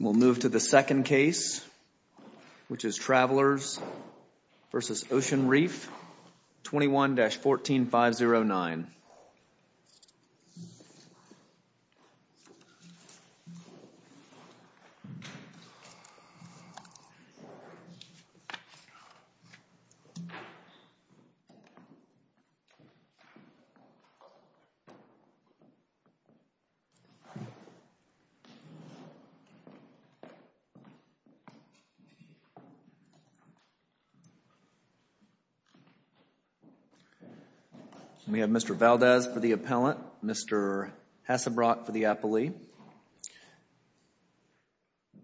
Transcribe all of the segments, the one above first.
We'll move to the second case, which is Travelers v. Ocean Reef 21-14509. We have Mr. Valdez for the appellant, Mr. Hassebrock for the appellee.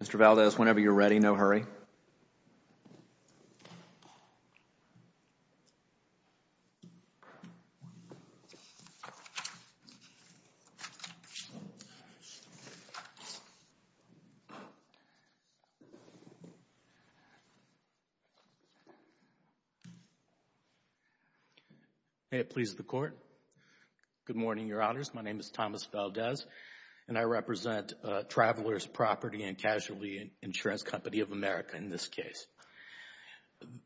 Mr. Valdez, whenever you're ready, no hurry. May it please the Court. Good morning, Your Honors. My name is Thomas Valdez, and I represent Travelers Property and Casualty Insurance Company of America in this case.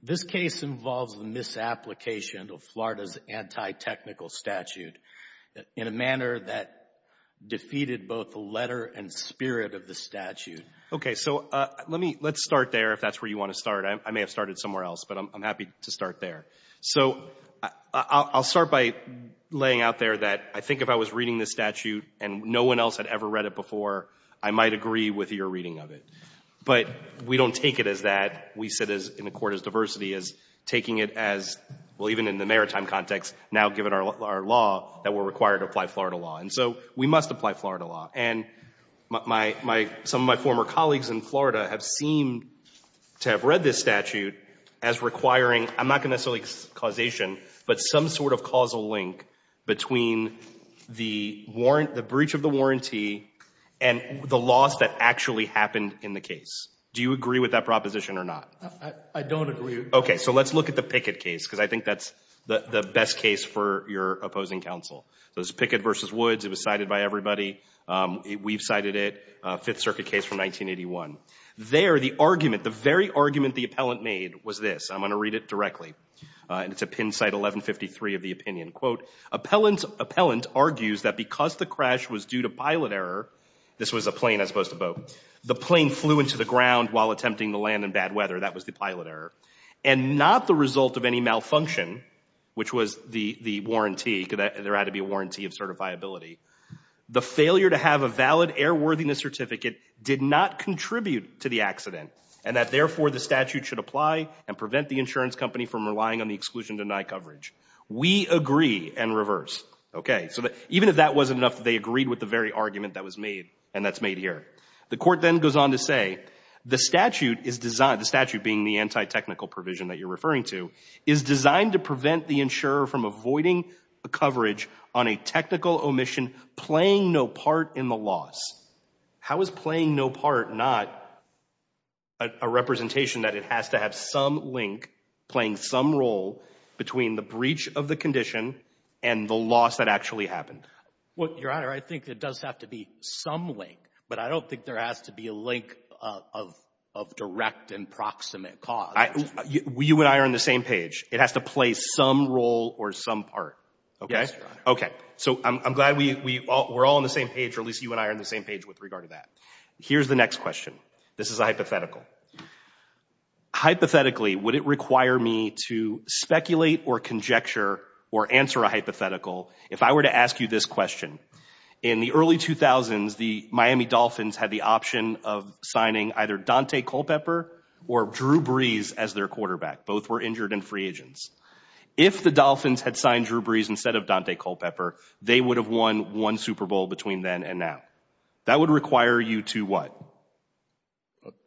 This case involves the misapplication of Florida's anti-technical statute in a manner that defeated both the letter and spirit of the statute. Okay, so let's start there, if that's where you want to start. I may have started somewhere else, but I'm happy to start there. So I'll start by laying out there that I think if I was reading this statute and no one else had ever read it before, I might agree with your reading of it. But we don't take it as that. We sit in the Court as diversity, as taking it as, well, even in the maritime context, now given our law, that we're required to apply Florida law. And so we must apply Florida law. And some of my former colleagues in Florida have seemed to have read this statute as requiring, I'm not going to say causation, but some sort of causal link between the breach of the warranty and the loss that actually happened in the case. Do you agree with that proposition or not? I don't agree. Okay, so let's look at the Pickett case, because I think that's the best case for your opposing counsel. So it's Pickett v. Woods. It was cited by everybody. We've cited it. Fifth Circuit case from 1981. There, the argument, the very argument the appellant made was this. I'm going to read it directly. And it's at pin site 1153 of the opinion. Quote, appellant argues that because the crash was due to pilot error, this was a plane as opposed to a boat, the plane flew into the ground while attempting to land in bad weather. That was the pilot error. And not the result of any malfunction, which was the warranty, because there had to be a warranty of certifiability. The failure to have a valid airworthiness certificate did not contribute to the accident, and that therefore the statute should apply and prevent the insurance company from relying on the exclusion to deny coverage. We agree and reverse. Okay, so even if that wasn't enough, they agreed with the very argument that was made, and that's made here. The court then goes on to say the statute is designed, the statute being the anti-technical provision that you're referring to, is designed to prevent the insurer from avoiding coverage on a technical omission playing no part in the loss. How is playing no part not a representation that it has to have some link playing some role between the breach of the condition and the loss that actually happened? Well, Your Honor, I think it does have to be some link, but I don't think there has to be a link of direct and proximate cause. You and I are on the same page. It has to play some role or some part, okay? Yes, Your Honor. Okay, so I'm glad we're all on the same page, or at least you and I are on the same page with regard to that. Here's the next question. This is a hypothetical. Hypothetically, would it require me to speculate or conjecture or answer a hypothetical if I were to ask you this question? In the early 2000s, the Miami Dolphins had the option of signing either Dante Culpepper or Drew Brees as their quarterback. Both were injured and free agents. If the Dolphins had signed Drew Brees instead of Dante Culpepper, they would have won one Super Bowl between then and now. That would require you to what?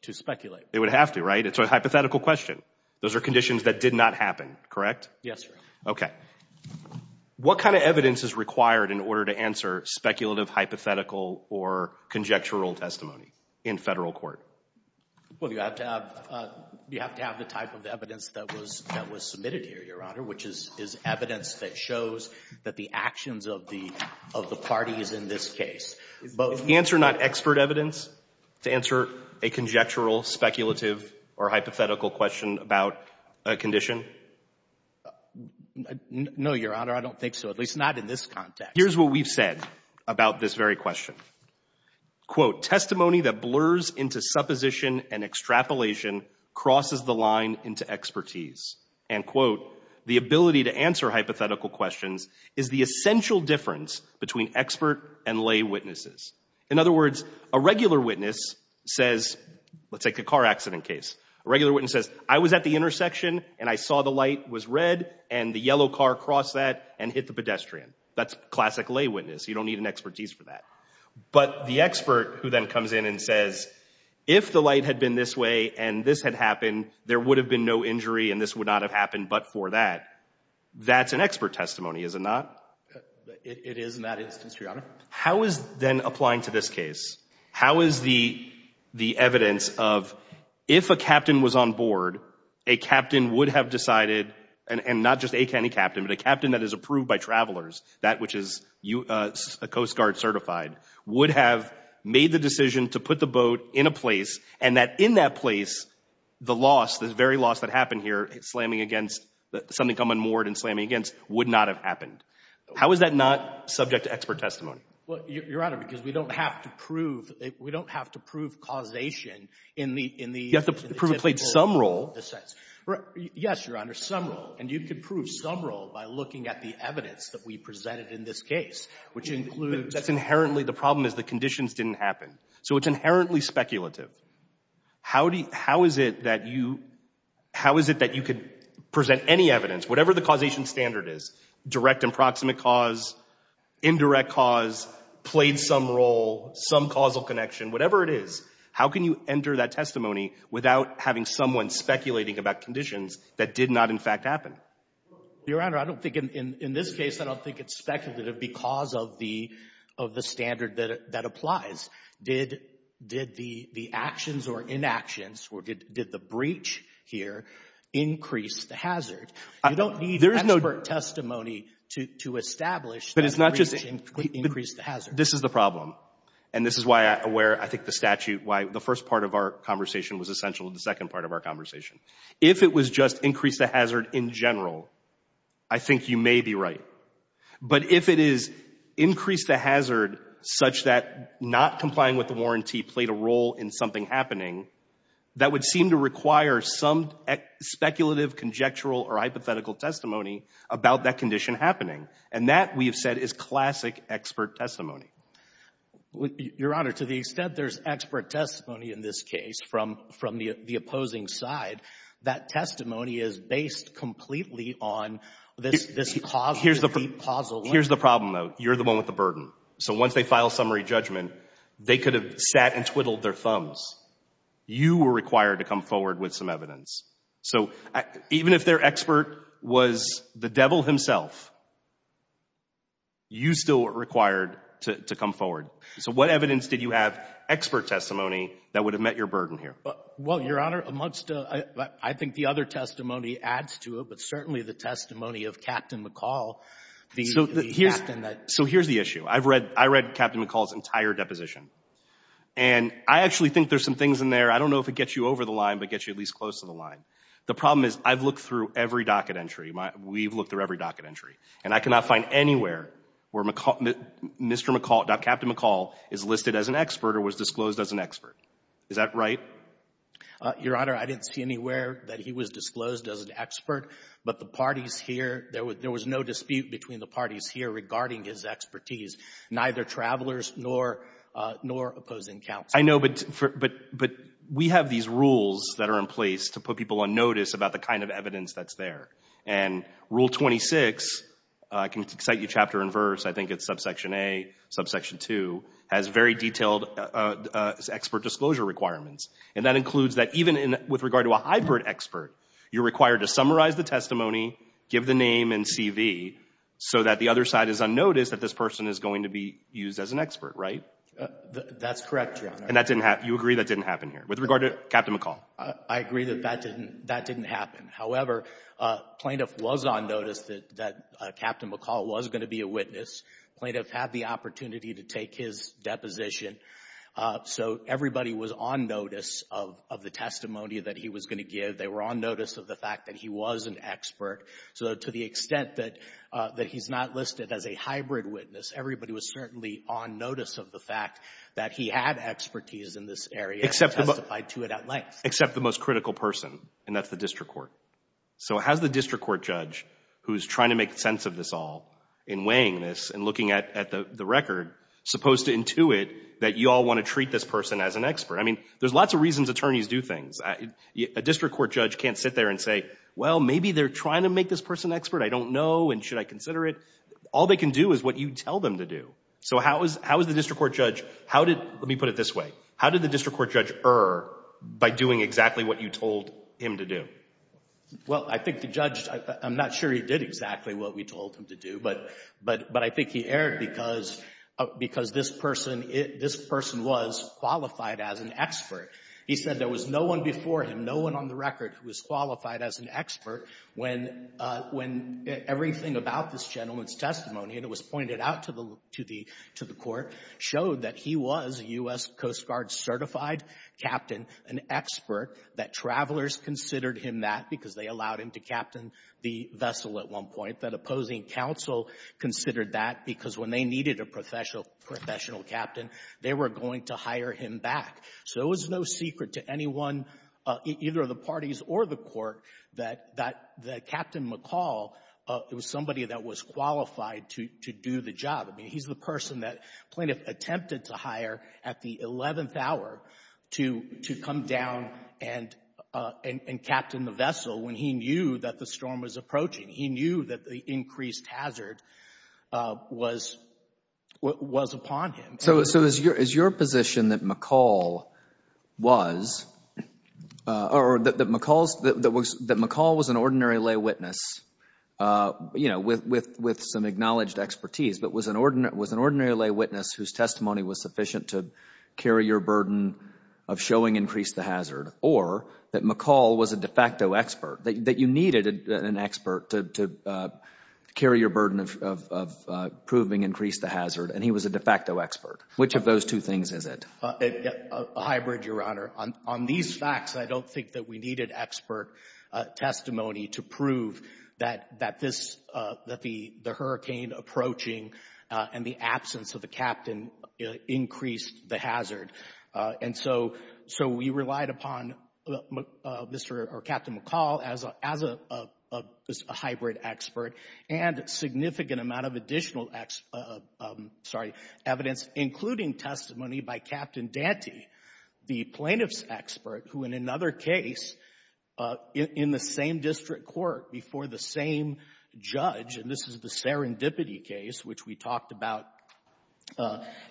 To speculate. It would have to, right? It's a hypothetical question. Those are conditions that did not happen, correct? Yes, sir. Okay. What kind of evidence is required in order to answer speculative, hypothetical, or conjectural testimony in federal court? Well, you have to have the type of evidence that was submitted here, Your Honor, which is evidence that shows that the actions of the party is in this case. Is the answer not expert evidence to answer a conjectural, speculative, or hypothetical question about a condition? No, Your Honor. I don't think so, at least not in this context. Here's what we've said about this very question. Quote, testimony that blurs into supposition and extrapolation crosses the line into expertise. End quote. The ability to answer hypothetical questions is the essential difference between expert and lay witnesses. In other words, a regular witness says, let's take a car accident case. A regular witness says, I was at the intersection and I saw the light was red and the yellow car crossed that and hit the pedestrian. That's classic lay witness. You don't need an expertise for that. But the expert who then comes in and says, if the light had been this way and this had happened, there would have been no injury and this would not have happened but for that, that's an expert testimony, is it not? It is in that instance, Your Honor. How is then applying to this case? How is the evidence of, if a captain was on board, a captain would have decided, and not just any captain, but a captain that is approved by travelers, that which is a Coast Guard certified, would have made the decision to put the boat in a place and that in that place, the loss, the very loss that happened here, slamming against, something come unmoored and slamming against, would not have happened. How is that not subject to expert testimony? Well, Your Honor, because we don't have to prove, we don't have to prove causation in the typical... You have to prove it played some role. Yes, Your Honor, some role. And you could prove some role by looking at the evidence that we presented in this case, which includes... That's inherently, the problem is the conditions didn't happen. So it's inherently speculative. How is it that you could present any evidence, whatever the causation standard is, direct and proximate cause, indirect cause, played some role, some causal connection, whatever it is, how can you enter that testimony without having someone speculating about conditions that did not in fact happen? Your Honor, I don't think in this case, I don't think it's speculative because of the standard that applies. Did the actions or inactions, did the breach here increase the hazard? You don't need expert testimony to establish that the breach increased the hazard. This is the problem. And this is why I think the statute, why the first part of our conversation was essential to the second part of our conversation. If it was just increase the hazard in general, I think you may be right. But if it is increase the hazard such that not complying with the warranty played a role in something happening, that would seem to require some speculative, conjectural, or hypothetical testimony about that condition happening. And that, we have said, is classic expert testimony. Your Honor, to the extent there's expert testimony in this case from the opposing side, that testimony is based completely on this causal... Here's the problem, though. You're the one with the burden. So once they file summary judgment, they could have sat and twiddled their thumbs. You were required to come forward with some evidence. So even if their expert was the devil himself, you still were required to come forward. So what evidence did you have, expert testimony, that would have met your burden here? Well, Your Honor, amongst, I think the other testimony adds to it, but certainly the testimony of Captain McCall, the captain that... So here's the issue. I've read, I read Captain McCall's entire deposition. And I actually think there's some things in there, I don't know if it gets you over the line, but gets you at least close to the line. The problem is I've looked through every docket entry. We've looked through every docket entry. And I cannot find anywhere where Mr. McCall, Captain McCall is listed as an expert or was disclosed as an expert. Is that right? Your Honor, I didn't see anywhere that he was disclosed as an expert. But the parties here, there was no dispute between the parties here regarding his expertise, neither travelers nor opposing counsel. I know, but we have these rules that are in place to put people on notice about the kind of evidence that's there. And Rule 26, I can cite you chapter and verse, I think it's subsection A, subsection 2, has very detailed expert disclosure requirements. And that includes that even with regard to a hybrid expert, you're required to summarize the testimony, give the name and CV, so that the other side is unnoticed that this person is going to be used as an expert, right? That's correct, Your Honor. And that didn't happen, you agree that didn't happen here? With regard to Captain McCall. I agree that that didn't happen. However, plaintiff was on notice that Captain McCall was going to be a witness. Plaintiff had the opportunity to take his deposition. So everybody was on notice of the testimony that he was going to give. They were on notice of the fact that he was an expert. So to the extent that he's not listed as a hybrid witness, everybody was certainly on notice of the fact that he had expertise in this area and testified to it at length. Except the most critical person, and that's the district court. So how's the district court judge, who's trying to make sense of this all in weighing this and looking at the record, supposed to intuit that you all want to treat this person as an expert? I mean, there's lots of reasons attorneys do things. A district court judge can't sit there and say, well, maybe they're trying to make this person an expert, I don't know, and should I consider it? All they can do is what you tell them to do. So how is the district court judge, how did, let me put it this way, how did the district court judge err by doing exactly what you told him to do? Well, I think the judge, I'm not sure he did exactly what we told him to do, but I think he erred because this person was qualified as an expert. He said there was no one before him, no one on the record, who was qualified as an expert when everything about this gentleman's testimony, and it was pointed out to the court, showed that he was a U.S. Coast Guard certified captain, an expert, that travelers considered him that because they allowed him to captain the vessel at one point, that opposing counsel considered that because when they needed a professional captain, they were going to hire him back. So it was no secret to anyone, either of the parties or the court, that Captain McCall was somebody that was qualified to do the job. I mean, he's the person that Plaintiff attempted to hire at the 11th hour to come down and captain the vessel when he knew that the storm was approaching. He knew that the increased hazard was upon him. So is your position that McCall was, or that McCall was an ordinary lay witness with some acknowledged expertise, but was an ordinary lay witness whose testimony was sufficient to carry your burden of showing increased the hazard, Which of those two things is it? A hybrid, Your Honor. On these facts, I don't think that we needed expert testimony to prove that this, that the hurricane approaching and the absence of the captain increased the hazard. And so, so we relied upon Mr. or Captain McCall as a hybrid expert and significant amount of additional, sorry, evidence, including testimony by Captain Dante, the plaintiff's expert, who in another case, in the same district court before the same judge, and this is the serendipity case, which we talked about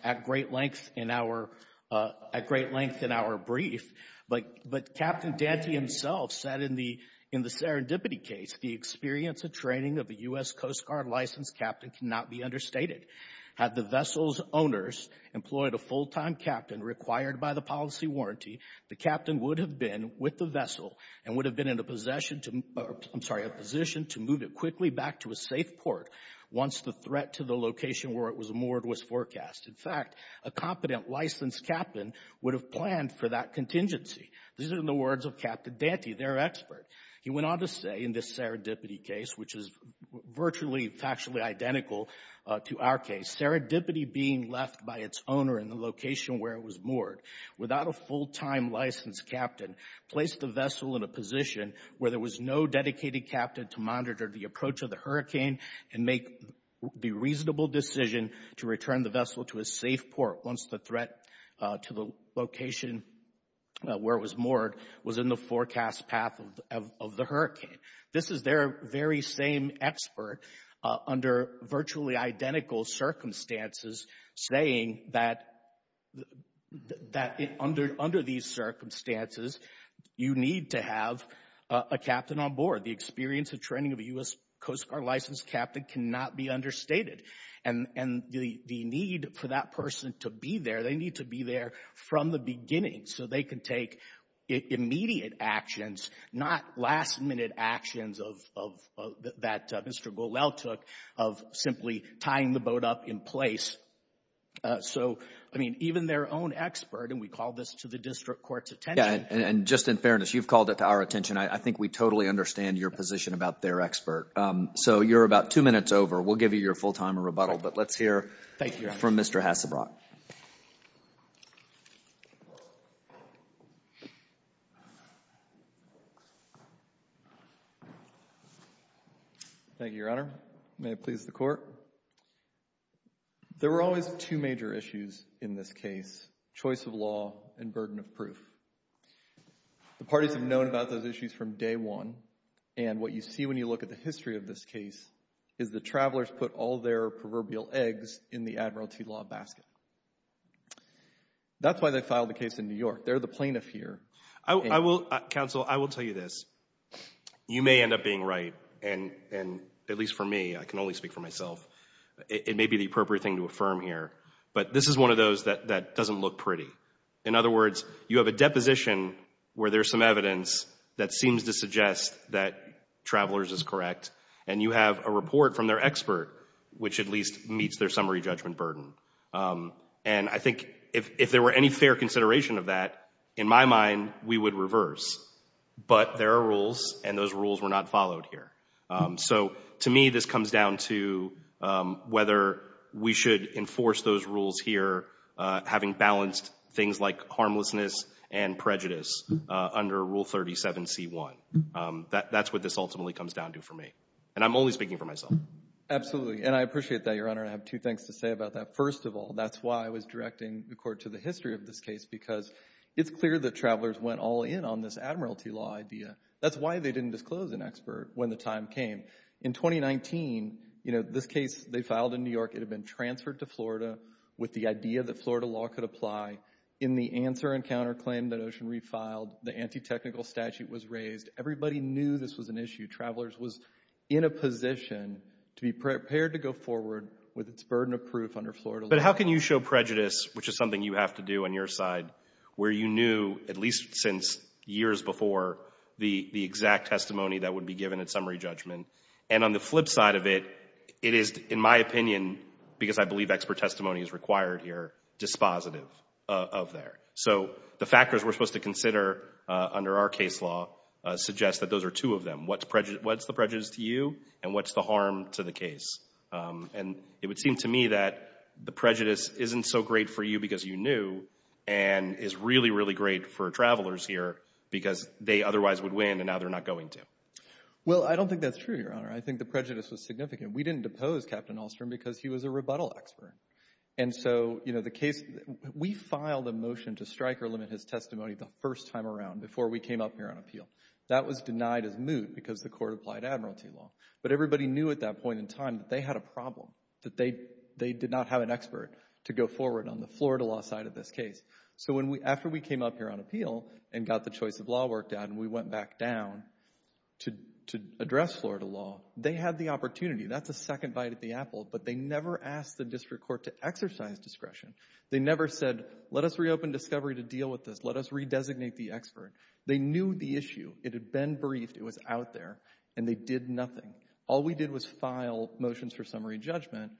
at great length in our, at great length in our brief, but, but Captain Dante himself said in the, in the serendipity case, the experience of training of a U.S. Coast Guard licensed captain cannot be understated. Had the vessel's owners employed a full-time captain required by the policy warranty, the captain would have been with the vessel and would have been in a possession to, I'm sorry, a position to move it quickly back to a safe port once the threat to the location where it was moored was forecast. In fact, a competent licensed captain would have planned for that contingency. These are the words of Captain Dante, their expert. He went on to say in this serendipity case, which is virtually, factually identical to our case, serendipity being left by its owner in the location where it was moored without a full-time licensed captain placed the vessel in a position where there was no dedicated captain to monitor the approach of the hurricane and make the reasonable decision to return the vessel to a safe port once the threat to the location where it was moored was in the forecast path of evidence. This is their very same expert under virtually identical circumstances saying that under these circumstances you need to have a captain on board. The experience of training of a U.S. Coast Guard licensed captain cannot be understated. The need for that person to be there, they need to be there from the beginning so they can take immediate actions, not last-minute actions that Mr. Golel took of simply tying the boat up in place. Even their own expert, and we call this to the district court's attention. Just in fairness, you've called it to our attention. I think we totally understand your position about their expert. So you're about two minutes over. We'll give you your full-time rebuttal, but let's hear from Mr. Hasselbrock. Thank you, Your Honor. Thank you, Your Honor. May it please the Court. There were always two major issues in this case, choice of law and burden of proof. The parties have known about those issues from day one, and what you see when you look at the history of this case is the travelers put all their proverbial eggs in the admiralty law basket. That's why they filed the case in New York. They're the plaintiff here. Counsel, I will tell you this. You may end up being right, and at least for me, I can only speak for myself, it may be the appropriate thing to affirm here, but this is one of those that doesn't look pretty. In other words, you have a deposition where there's some evidence that seems to suggest that travelers is correct, and you have a report from their expert, which at least meets their summary judgment burden. And I think if there were any fair consideration of that, in my mind, we would reverse. But there are rules, and those rules were not followed here. So to me, this comes down to whether we should enforce those rules here, having balanced things like harmlessness and prejudice under Rule 37c1. That's what this ultimately comes down to for me. And I'm only speaking for myself. And I appreciate that, Your Honor. I have two things to say about that. First of all, that's why I was directing the Court to the history of this case, because it's clear that travelers went all in on this admiralty law idea. That's why they didn't disclose an expert when the time came. In 2019, you know, this case, they filed in New York. It had been transferred to Florida with the idea that Florida law could apply. In the answer and counterclaim that Ocean Reef filed, the anti-technical statute was raised. Everybody knew this was an issue. Travelers was in a position to be prepared to go forward with its burden of proof under Florida law. But how can you show prejudice, which is something you have to do on your side, where you knew, at least since years before, the exact testimony that would be given at summary judgment? And on the flip side of it, it is, in my opinion, because I believe expert testimony is required here, dispositive of there. So the factors we're supposed to consider under our case law suggest that those are two of them. What's the prejudice to you and what's the harm to the case? And it would seem to me that the prejudice isn't so great for you because you knew and is really, really great for travelers here because they otherwise would win and now they're not going to. Well, I don't think that's true, Your Honor. I think the prejudice was significant. We didn't depose Captain Ahlstrom because he was a rebuttal expert. And so, you know, the case, we filed a motion to strike or limit his testimony the first time around before we came up here on appeal. That was denied as moot because the court applied admiralty law. But everybody knew at that point in time that they had a problem, that they did not have an expert to go forward on the Florida law side of this case. So after we came up here on appeal and got the choice of law worked out and we went back down to address Florida law, they had the opportunity. That's a second bite at the apple. But they never asked the district court to exercise discretion. They never said, let us reopen discovery to deal with this. Let us redesignate the expert. They knew the issue. It had been briefed. It was out there. And they did nothing. All we did was file motions for summary judgment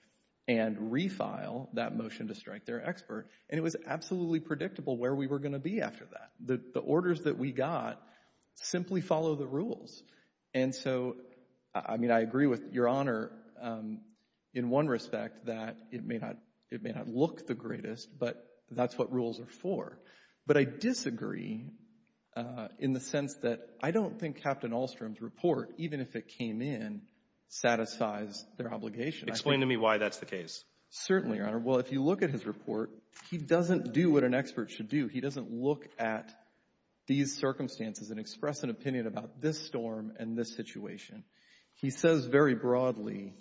and refile that motion to strike their expert. And it was absolutely predictable where we were going to be after that. The orders that we got simply follow the rules. And so, I mean, I agree with Your Honor in one respect that it may not look the greatest, but that's what rules are for. But I disagree in the sense that I don't think Captain Ahlstrom's report, even if it came in, satisfies their obligation. Explain to me why that's the case. Certainly, Your Honor. Well, if you look at his report, he doesn't do what an expert should do. He doesn't look at these circumstances and express an opinion about this storm and this situation. He says very broadly,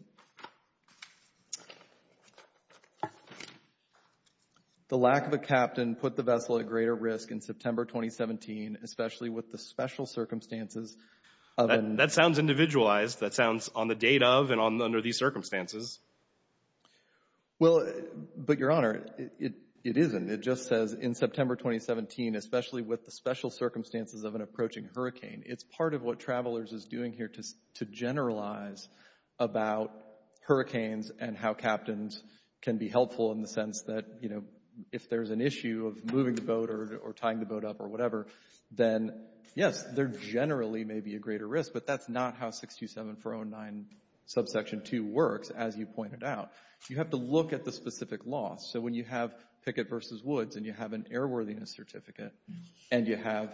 the lack of a captain put the vessel at greater risk in September 2017, especially with the special circumstances. That sounds individualized. That sounds on the date of and under these circumstances. Well, but, Your Honor, it isn't. It just says in September 2017, especially with the special circumstances of an approaching hurricane. It's part of what Travelers is doing here to generalize about hurricanes and how captains can be helpful in the sense that, you know, if there's an issue of moving the boat or tying the boat up or whatever, then, yes, there generally may be a greater risk. But that's not how 627409 subsection 2 works, as you pointed out. You have to look at the specific loss. So when you have Pickett v. Woods and you have an airworthiness certificate and you have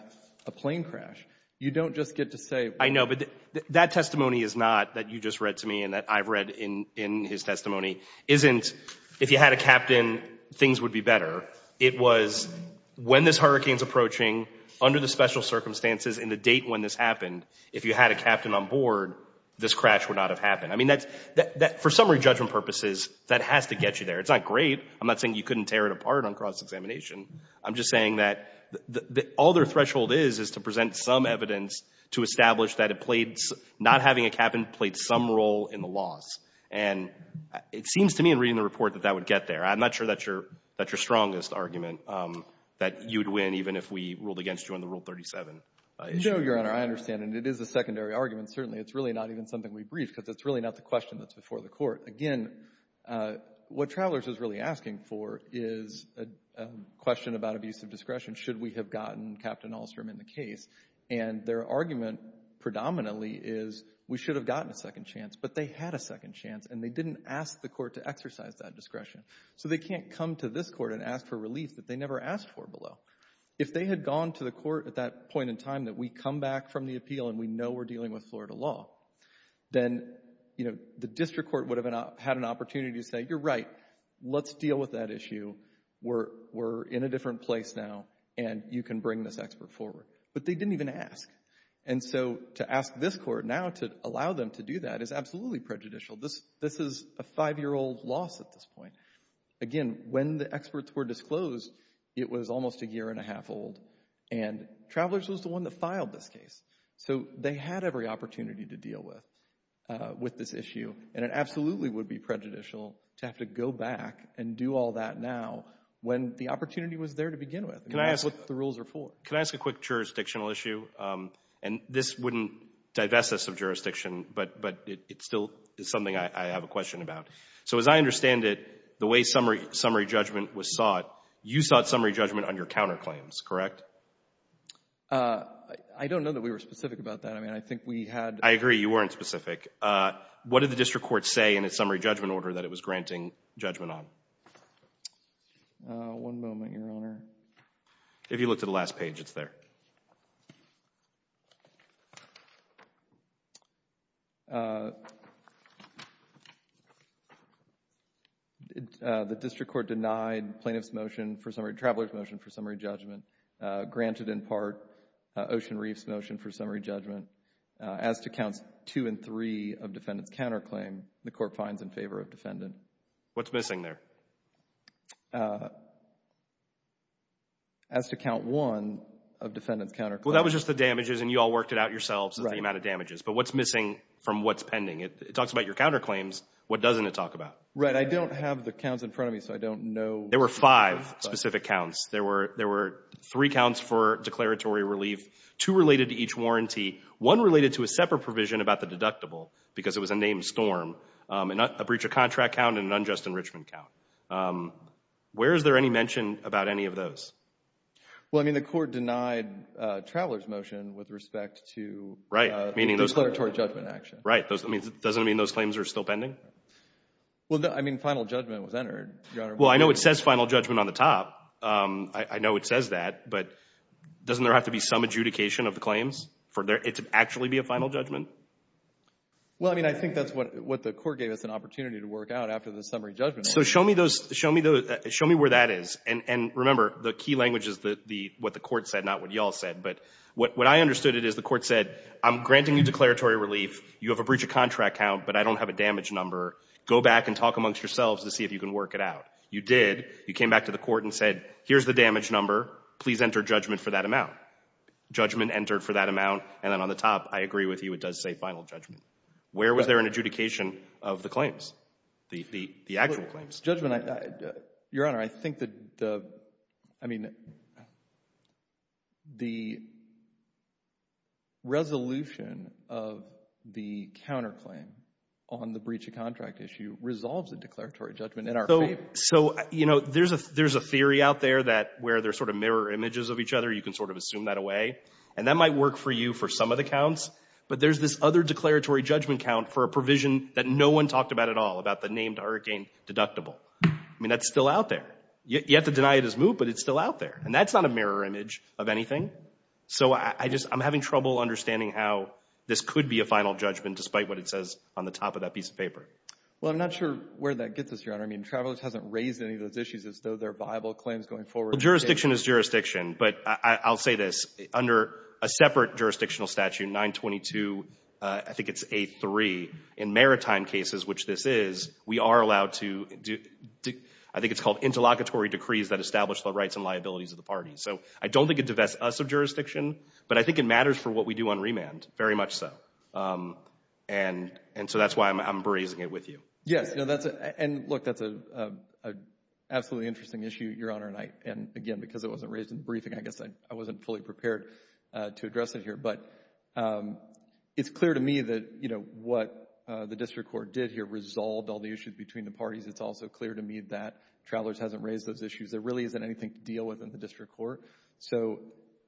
a plane crash, you don't just get to say... I know, but that testimony is not that you just read to me and that I've read in his testimony, isn't if you had a captain, things would be better. It was when this hurricane is approaching, under the special circumstances and the date when this happened, if you had a captain on board, this crash would not have happened. I mean, for summary judgment purposes, that has to get you there. It's not great. I'm not saying you couldn't tear it apart on cross-examination. I'm just saying that all their threshold is, is to present some evidence to establish that it played — not having a captain played some role in the loss. And it seems to me in reading the report that that would get there. I'm not sure that's your strongest argument, that you would win even if we ruled against you on the Rule 37 issue. No, Your Honor, I understand. And it is a secondary argument. Certainly, it's really not even something we briefed because it's really not the question that's before the Court. Again, what Travelers is really asking for is a question about abuse of discretion. Should we have gotten Captain Ahlstrom in the case? And their argument predominantly is we should have gotten a second chance, but they had a second chance, and they didn't ask the Court to exercise that discretion. So they can't come to this Court and ask for relief that they never asked for below. If they had gone to the Court at that point in time that we come back from the appeal and we know we're dealing with Florida law, then, you know, the District Court would have had an opportunity to say, you're right. Let's deal with that issue. We're in a different place now, and you can bring this expert forward. But they didn't even ask. And so to ask this Court now to allow them to do that is absolutely prejudicial. This is a five-year-old loss at this point. Again, when the experts were disclosed, it was almost a year and a half old, and Travelers was the one that filed this case. So they had every opportunity to deal with this issue, and it absolutely would be prejudicial to have to go back and do all that now when the opportunity was there to begin with. I mean, that's what the rules are for. Can I ask a quick jurisdictional issue? And this wouldn't divest us of jurisdiction, but it still is something I have a question about. So as I understand it, the way summary judgment was sought, you sought summary judgment on your counterclaims, correct? I don't know that we were specific about that. I mean, I think we had— I agree you weren't specific. What did the district court say in its summary judgment order that it was granting judgment on? One moment, Your Honor. If you look to the last page, it's there. The district court denied plaintiff's motion for summary—Traveler's motion for summary judgment, granted in part Ocean Reef's motion for summary judgment. As to counts two and three of defendant's counterclaim, the court finds in favor of defendant. What's missing there? As to count one of defendant's counterclaim— Well, that was just the damages, and you all worked it out yourselves, the amount of damages. But what's missing from what's pending? It talks about your counterclaims. What doesn't it talk about? Right. I don't have the counts in front of me, so I don't know. There were five specific counts. There were three counts for declaratory relief, two related to each warranty, one related to a separate provision about the deductible because it was a named storm, a breach of contract count, and an unjust enrichment count. Where is there any mention about any of those? Well, I mean, the court denied Traveler's motion with respect to declaratory judgment action. Right. Doesn't it mean those claims are still pending? Well, I mean, final judgment was entered, Your Honor. Well, I know it says final judgment on the top. I know it says that, but doesn't there have to be some adjudication of the claims for it to actually be a final judgment? Well, I mean, I think that's what the court gave us an opportunity to work out after the summary judgment. So show me where that is. And remember, the key language is what the court said, not what you all said. But what I understood it is the court said, I'm granting you declaratory relief. You have a breach of contract count, but I don't have a damage number. Go back and talk amongst yourselves to see if you can work it out. You did. You came back to the court and said, here's the damage number. Please enter judgment for that amount. Judgment entered for that amount, and then on the top, I agree with you, it does say final judgment. Where was there an adjudication of the claims, the actual claims? Your Honor, I think that the resolution of the counterclaim on the breach of contract issue resolves the declaratory judgment in our favor. So, you know, there's a theory out there that where they're sort of mirror images of each other, you can sort of assume that away. And that might work for you for some of the counts. But there's this other declaratory judgment count for a provision that no one talked about at all, about the named hurricane deductible. I mean, that's still out there. You have to deny it as moot, but it's still out there. And that's not a mirror image of anything. So I just — I'm having trouble understanding how this could be a final judgment, despite what it says on the top of that piece of paper. Well, I'm not sure where that gets us, Your Honor. I mean, Travelers hasn't raised any of those issues as though they're viable claims going forward. Well, jurisdiction is jurisdiction. But I'll say this. Under a separate jurisdictional statute, 922, I think it's 8-3, in maritime cases, which this is, we are allowed to — I think it's called interlocutory decrees that establish the rights and liabilities of the parties. So I don't think it divests us of jurisdiction, but I think it matters for what we do on remand, very much so. And so that's why I'm bracing it with you. Yes. And look, that's an absolutely interesting issue, Your Honor. And again, because it wasn't raised in the briefing, I guess I wasn't fully prepared to address it here. But it's clear to me that, you know, what the district court did here resolved all the issues between the parties. It's also clear to me that Travelers hasn't raised those issues. There really isn't anything to deal with in the district court. So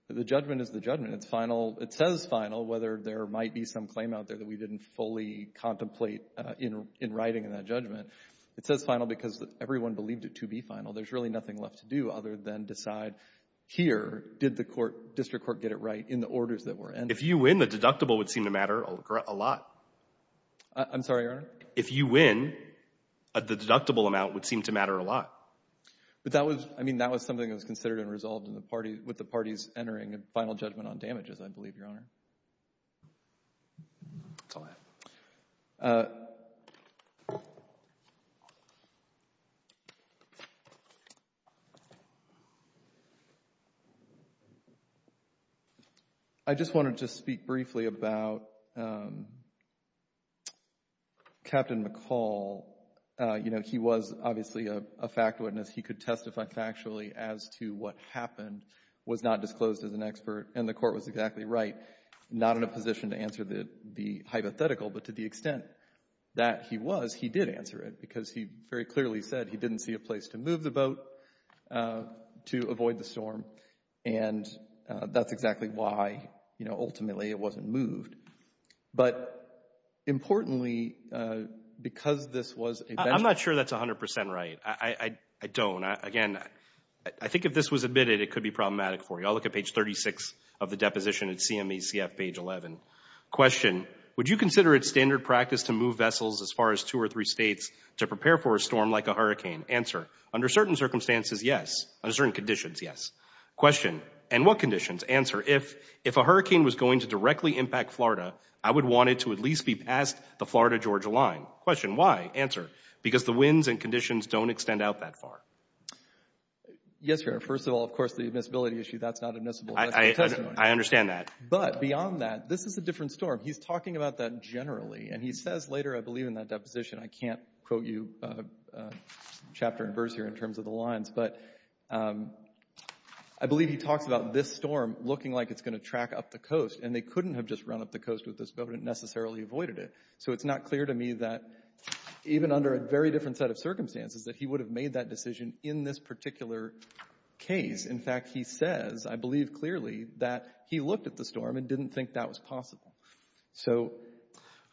the judgment is the judgment. It's final. It says final, whether there might be some claim out there that we didn't fully contemplate in writing in that judgment. It says final because everyone believed it to be final. There's really nothing left to do other than decide here, did the court — district court get it right in the orders that were entered? If you win, the deductible would seem to matter a lot. I'm sorry, Your Honor? If you win, the deductible amount would seem to matter a lot. But that was something that was considered and resolved with the parties entering a final judgment on damages, I believe, Your Honor. I just wanted to speak briefly about Captain McCall. You know, he was obviously a fact witness. He could testify factually as to what happened, was not disclosed as an expert, and the court was exactly right, not in a position to answer the hypothetical. But to the extent that he was, he did answer it because he very clearly said he didn't see a place to move the boat to avoid the storm. And that's exactly why, you know, ultimately it wasn't moved. But importantly, because this was a — I'm not sure that's 100 percent right. I don't. Again, I think if this was admitted, it could be problematic for you. I'll look at page 36 of the deposition at CMECF, page 11. Question. Would you consider it standard practice to move vessels as far as two or three states to prepare for a storm like a hurricane? Answer. Under certain circumstances, yes. Under certain conditions, yes. Question. And what conditions? Answer. If a hurricane was going to directly impact Florida, I would want it to at least be past the Florida-Georgia line. Question. Why? Answer. Because the winds and conditions don't extend out that far. Yes, Your Honor. First of all, of course, the admissibility issue, that's not admissible testimony. I understand that. But beyond that, this is a different storm. He's talking about that generally, and he says later, I believe, in that deposition, I can't quote you chapter and verse here in terms of the lines, but I believe he talks about this storm looking like it's going to track up the coast, and they couldn't have just run up the coast with this boat and necessarily avoided it. So it's not clear to me that even under a very different set of circumstances that he would have made that decision in this particular case. In fact, he says, I believe clearly, that he looked at the storm and didn't think that was possible. So.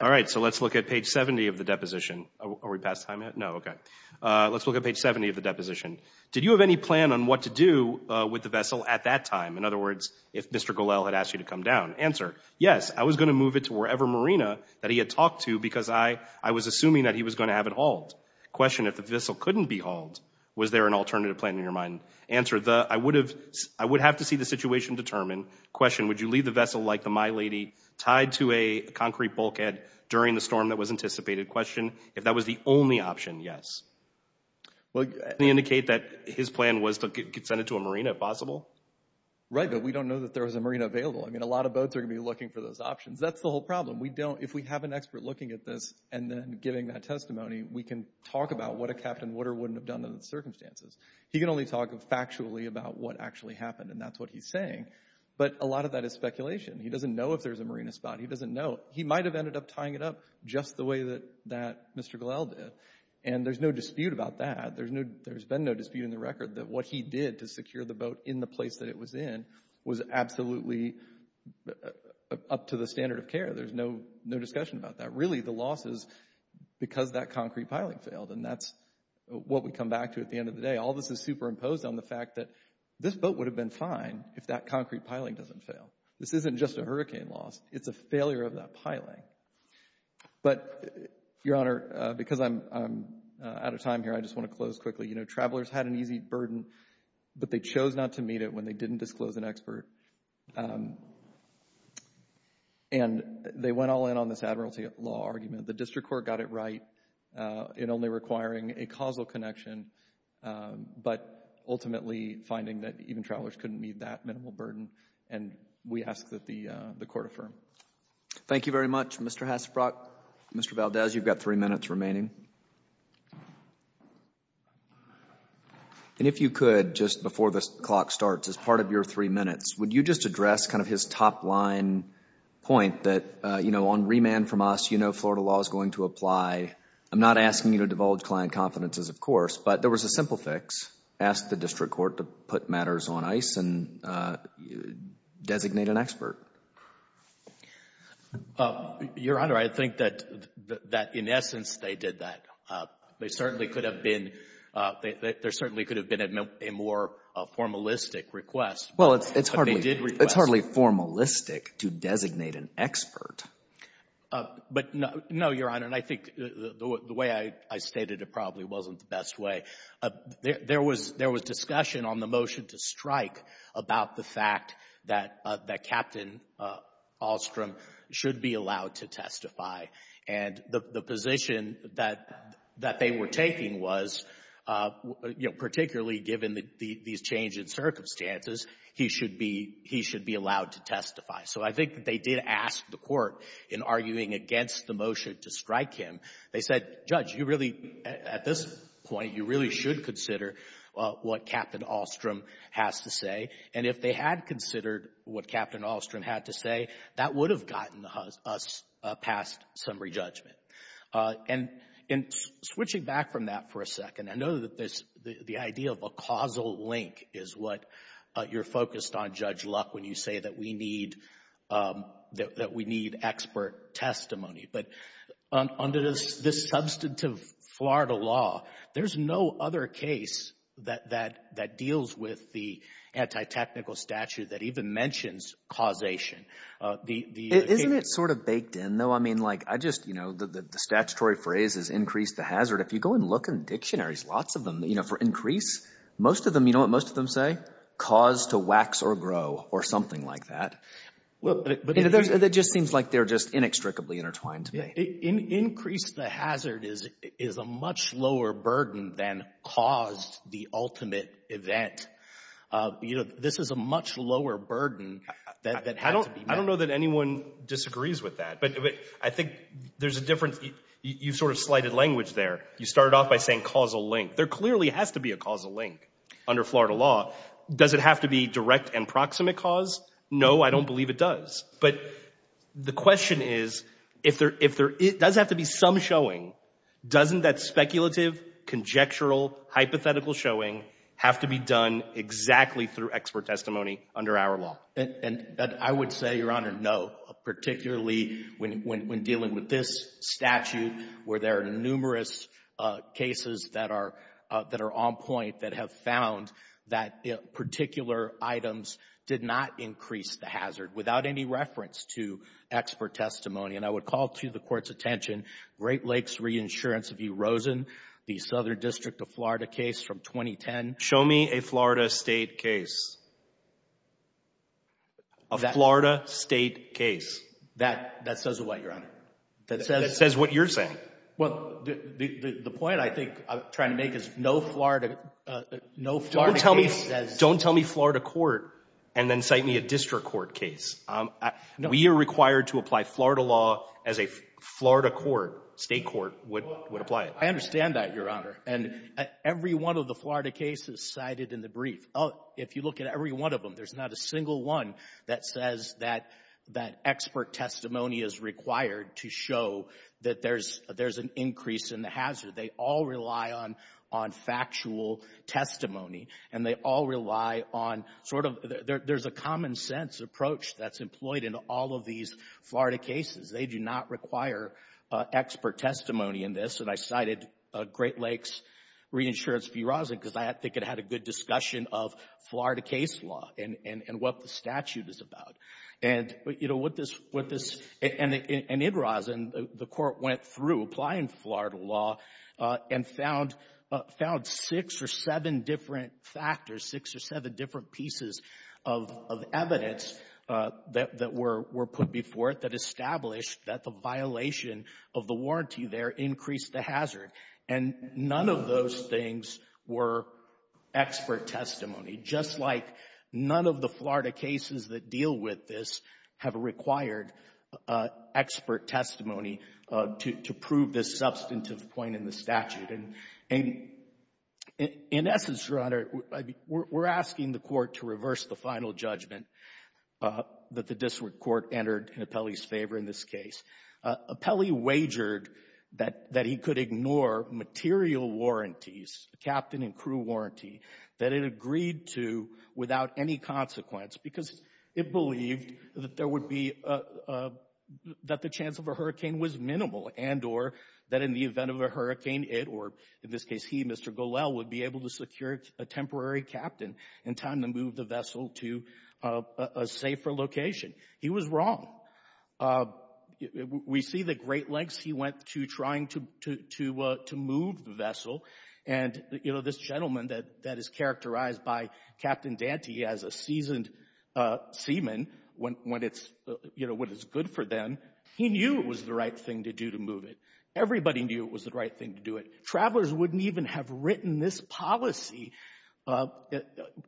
All right. So let's look at page 70 of the deposition. Are we past time yet? No. Okay. Let's look at page 70 of the deposition. Did you have any plan on what to do with the vessel at that time? In other words, if Mr. Golel had asked you to come down. Answer. Yes, I was going to move it to wherever marina that he had talked to because I was assuming that he was going to have it hauled. Question. If the vessel couldn't be hauled, was there an alternative plan in your mind? Answer. I would have to see the situation determined. Question. Would you leave the vessel like the My Lady tied to a concrete bulkhead during the storm that was anticipated? Question. If that was the only option, yes. Can you indicate that his plan was to send it to a marina if possible? Right, but we don't know that there was a marina available. I mean, a lot of boats are going to be looking for those options. That's the whole problem. If we have an expert looking at this and then giving that testimony, we can talk about what a Captain Wooder wouldn't have done under the circumstances. He can only talk factually about what actually happened, and that's what he's saying. But a lot of that is speculation. He doesn't know if there's a marina spot. He doesn't know. He might have ended up tying it up just the way that Mr. Golel did. And there's no dispute about that. There's been no dispute in the record that what he did to secure the boat in the place that it was in was absolutely up to the standard of care. There's no discussion about that. Really, the loss is because that concrete piling failed, and that's what we come back to at the end of the day. All this is superimposed on the fact that this boat would have been fine if that concrete piling doesn't fail. This isn't just a hurricane loss. It's a failure of that piling. But, Your Honor, because I'm out of time here, I just want to close quickly. You know, travelers had an easy burden, but they chose not to meet it when they didn't disclose an expert, and they went all in on this admiralty law argument. The district court got it right in only requiring a causal connection, but ultimately finding that even travelers couldn't meet that minimal burden, and we ask that the court affirm. Thank you very much, Mr. Hassebrock. Mr. Valdez, you've got three minutes remaining. And if you could, just before the clock starts, as part of your three minutes, would you just address kind of his top line point that, you know, on remand from us, you know Florida law is going to apply. I'm not asking you to divulge client confidences, of course, but there was a simple fix. Ask the district court to put matters on ice and designate an expert. Your Honor, I think that in essence they did that. They certainly could have been — there certainly could have been a more formalistic request. Well, it's hardly — But they did request. It's hardly formalistic to designate an expert. But no, Your Honor, and I think the way I stated it probably wasn't the best way. There was discussion on the motion to strike about the fact that Captain Ahlstrom should be allowed to testify, and the position that they were taking was, you know, particularly given these changing circumstances, he should be allowed to testify. So I think that they did ask the court in arguing against the motion to strike him. They said, Judge, you really, at this point, you really should consider what Captain Ahlstrom has to say. And if they had considered what Captain Ahlstrom had to say, that would have gotten us past summary judgment. And switching back from that for a second, I know that the idea of a causal link is what you're focused on, Judge Luck, when you say that we need expert testimony. But under this substantive Florida law, there's no other case that deals with the anti-technical statute that even mentions causation. Isn't it sort of baked in, though? I mean, like, I just, you know, the statutory phrase is increase the hazard. If you go and look in dictionaries, lots of them, you know, for increase, most of them, you know what most of them say? Cause to wax or grow or something like that. It just seems like they're just inextricably intertwined to me. Increase the hazard is a much lower burden than caused the ultimate event. You know, this is a much lower burden than had to be made. I don't know that anyone disagrees with that. But I think there's a difference. You sort of slighted language there. You started off by saying causal link. There clearly has to be a causal link under Florida law. Does it have to be direct and proximate cause? No, I don't believe it does. But the question is, if there does have to be some showing, doesn't that speculative, conjectural, hypothetical showing have to be done exactly through expert testimony under our law? And I would say, Your Honor, no, particularly when dealing with this statute where there are numerous cases that are on point that have found that particular items did not increase the hazard without any reference to expert testimony. And I would call to the Court's attention Great Lakes Reinsurance v. Rosen, the Southern District of Florida case from 2010. Show me a Florida state case. A Florida state case. That says a lot, Your Honor. That says what you're saying. Well, the point I think I'm trying to make is no Florida case. Don't tell me Florida court and then cite me a district court case. We are required to apply Florida law as a Florida court, state court would apply it. I understand that, Your Honor. And every one of the Florida cases cited in the brief, if you look at every one of them, there's not a single one that says that expert testimony is required to show that there's an increase in the hazard. They all rely on factual testimony and they all rely on sort of there's a common sense approach that's employed in all of these Florida cases. They do not require expert testimony in this. And I cited Great Lakes Reinsurance v. Rosen because I think it had a good discussion of Florida case law and what the statute is about. And, you know, what this, and in Rosen, the court went through applying Florida law and found six or seven different factors, six or seven different pieces of evidence that were put before it that established that the violation of the warranty there increased the hazard. And none of those things were expert testimony, just like none of the Florida cases that deal with this have required expert testimony to prove this substantive point in the statute. And in essence, Your Honor, we're asking the Court to reverse the final judgment that the district court entered in Apelli's favor in this case. Apelli wagered that he could ignore material warranties, captain and crew warranty, that it agreed to without any consequence because it believed that there would be, that the chance of a hurricane was minimal and or that in the event of a hurricane it, or in this case he, Mr. Golel, would be able to secure a temporary captain in time to move the vessel to a safer location. He was wrong. We see the great lengths he went to trying to move the vessel. And, you know, this gentleman that is characterized by Captain Dante as a seasoned seaman, when it's, you know, when it's good for them, he knew it was the right thing to do to move it. Everybody knew it was the right thing to do it. Travelers wouldn't even have written this policy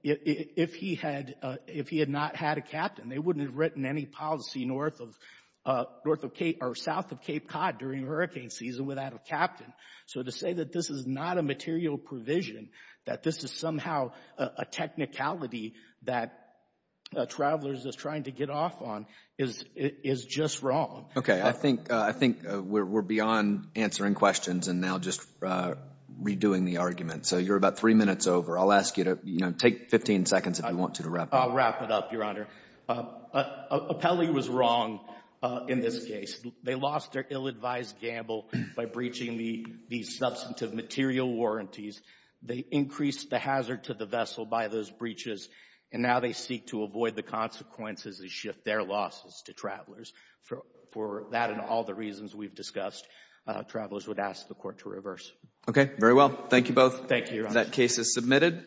if he had, if he had not had a captain. They wouldn't have written any policy north of, north of Cape, or south of Cape Cod during hurricane season without a captain. So to say that this is not a material provision, that this is somehow a technicality that travelers is trying to get off on is, is just wrong. Okay, I think, I think we're beyond answering questions and now just redoing the argument. So you're about three minutes over. I'll ask you to, you know, take 15 seconds if you want to, to wrap up. I'll wrap it up, Your Honor. Apelli was wrong in this case. They lost their ill-advised gamble by breaching the substantive material warranties. They increased the hazard to the vessel by those breaches, and now they seek to avoid the consequences and shift their losses to travelers. For that and all the reasons we've discussed, travelers would ask the Court to reverse. Okay, very well. Thank you both. Thank you, Your Honor. That case is submitted.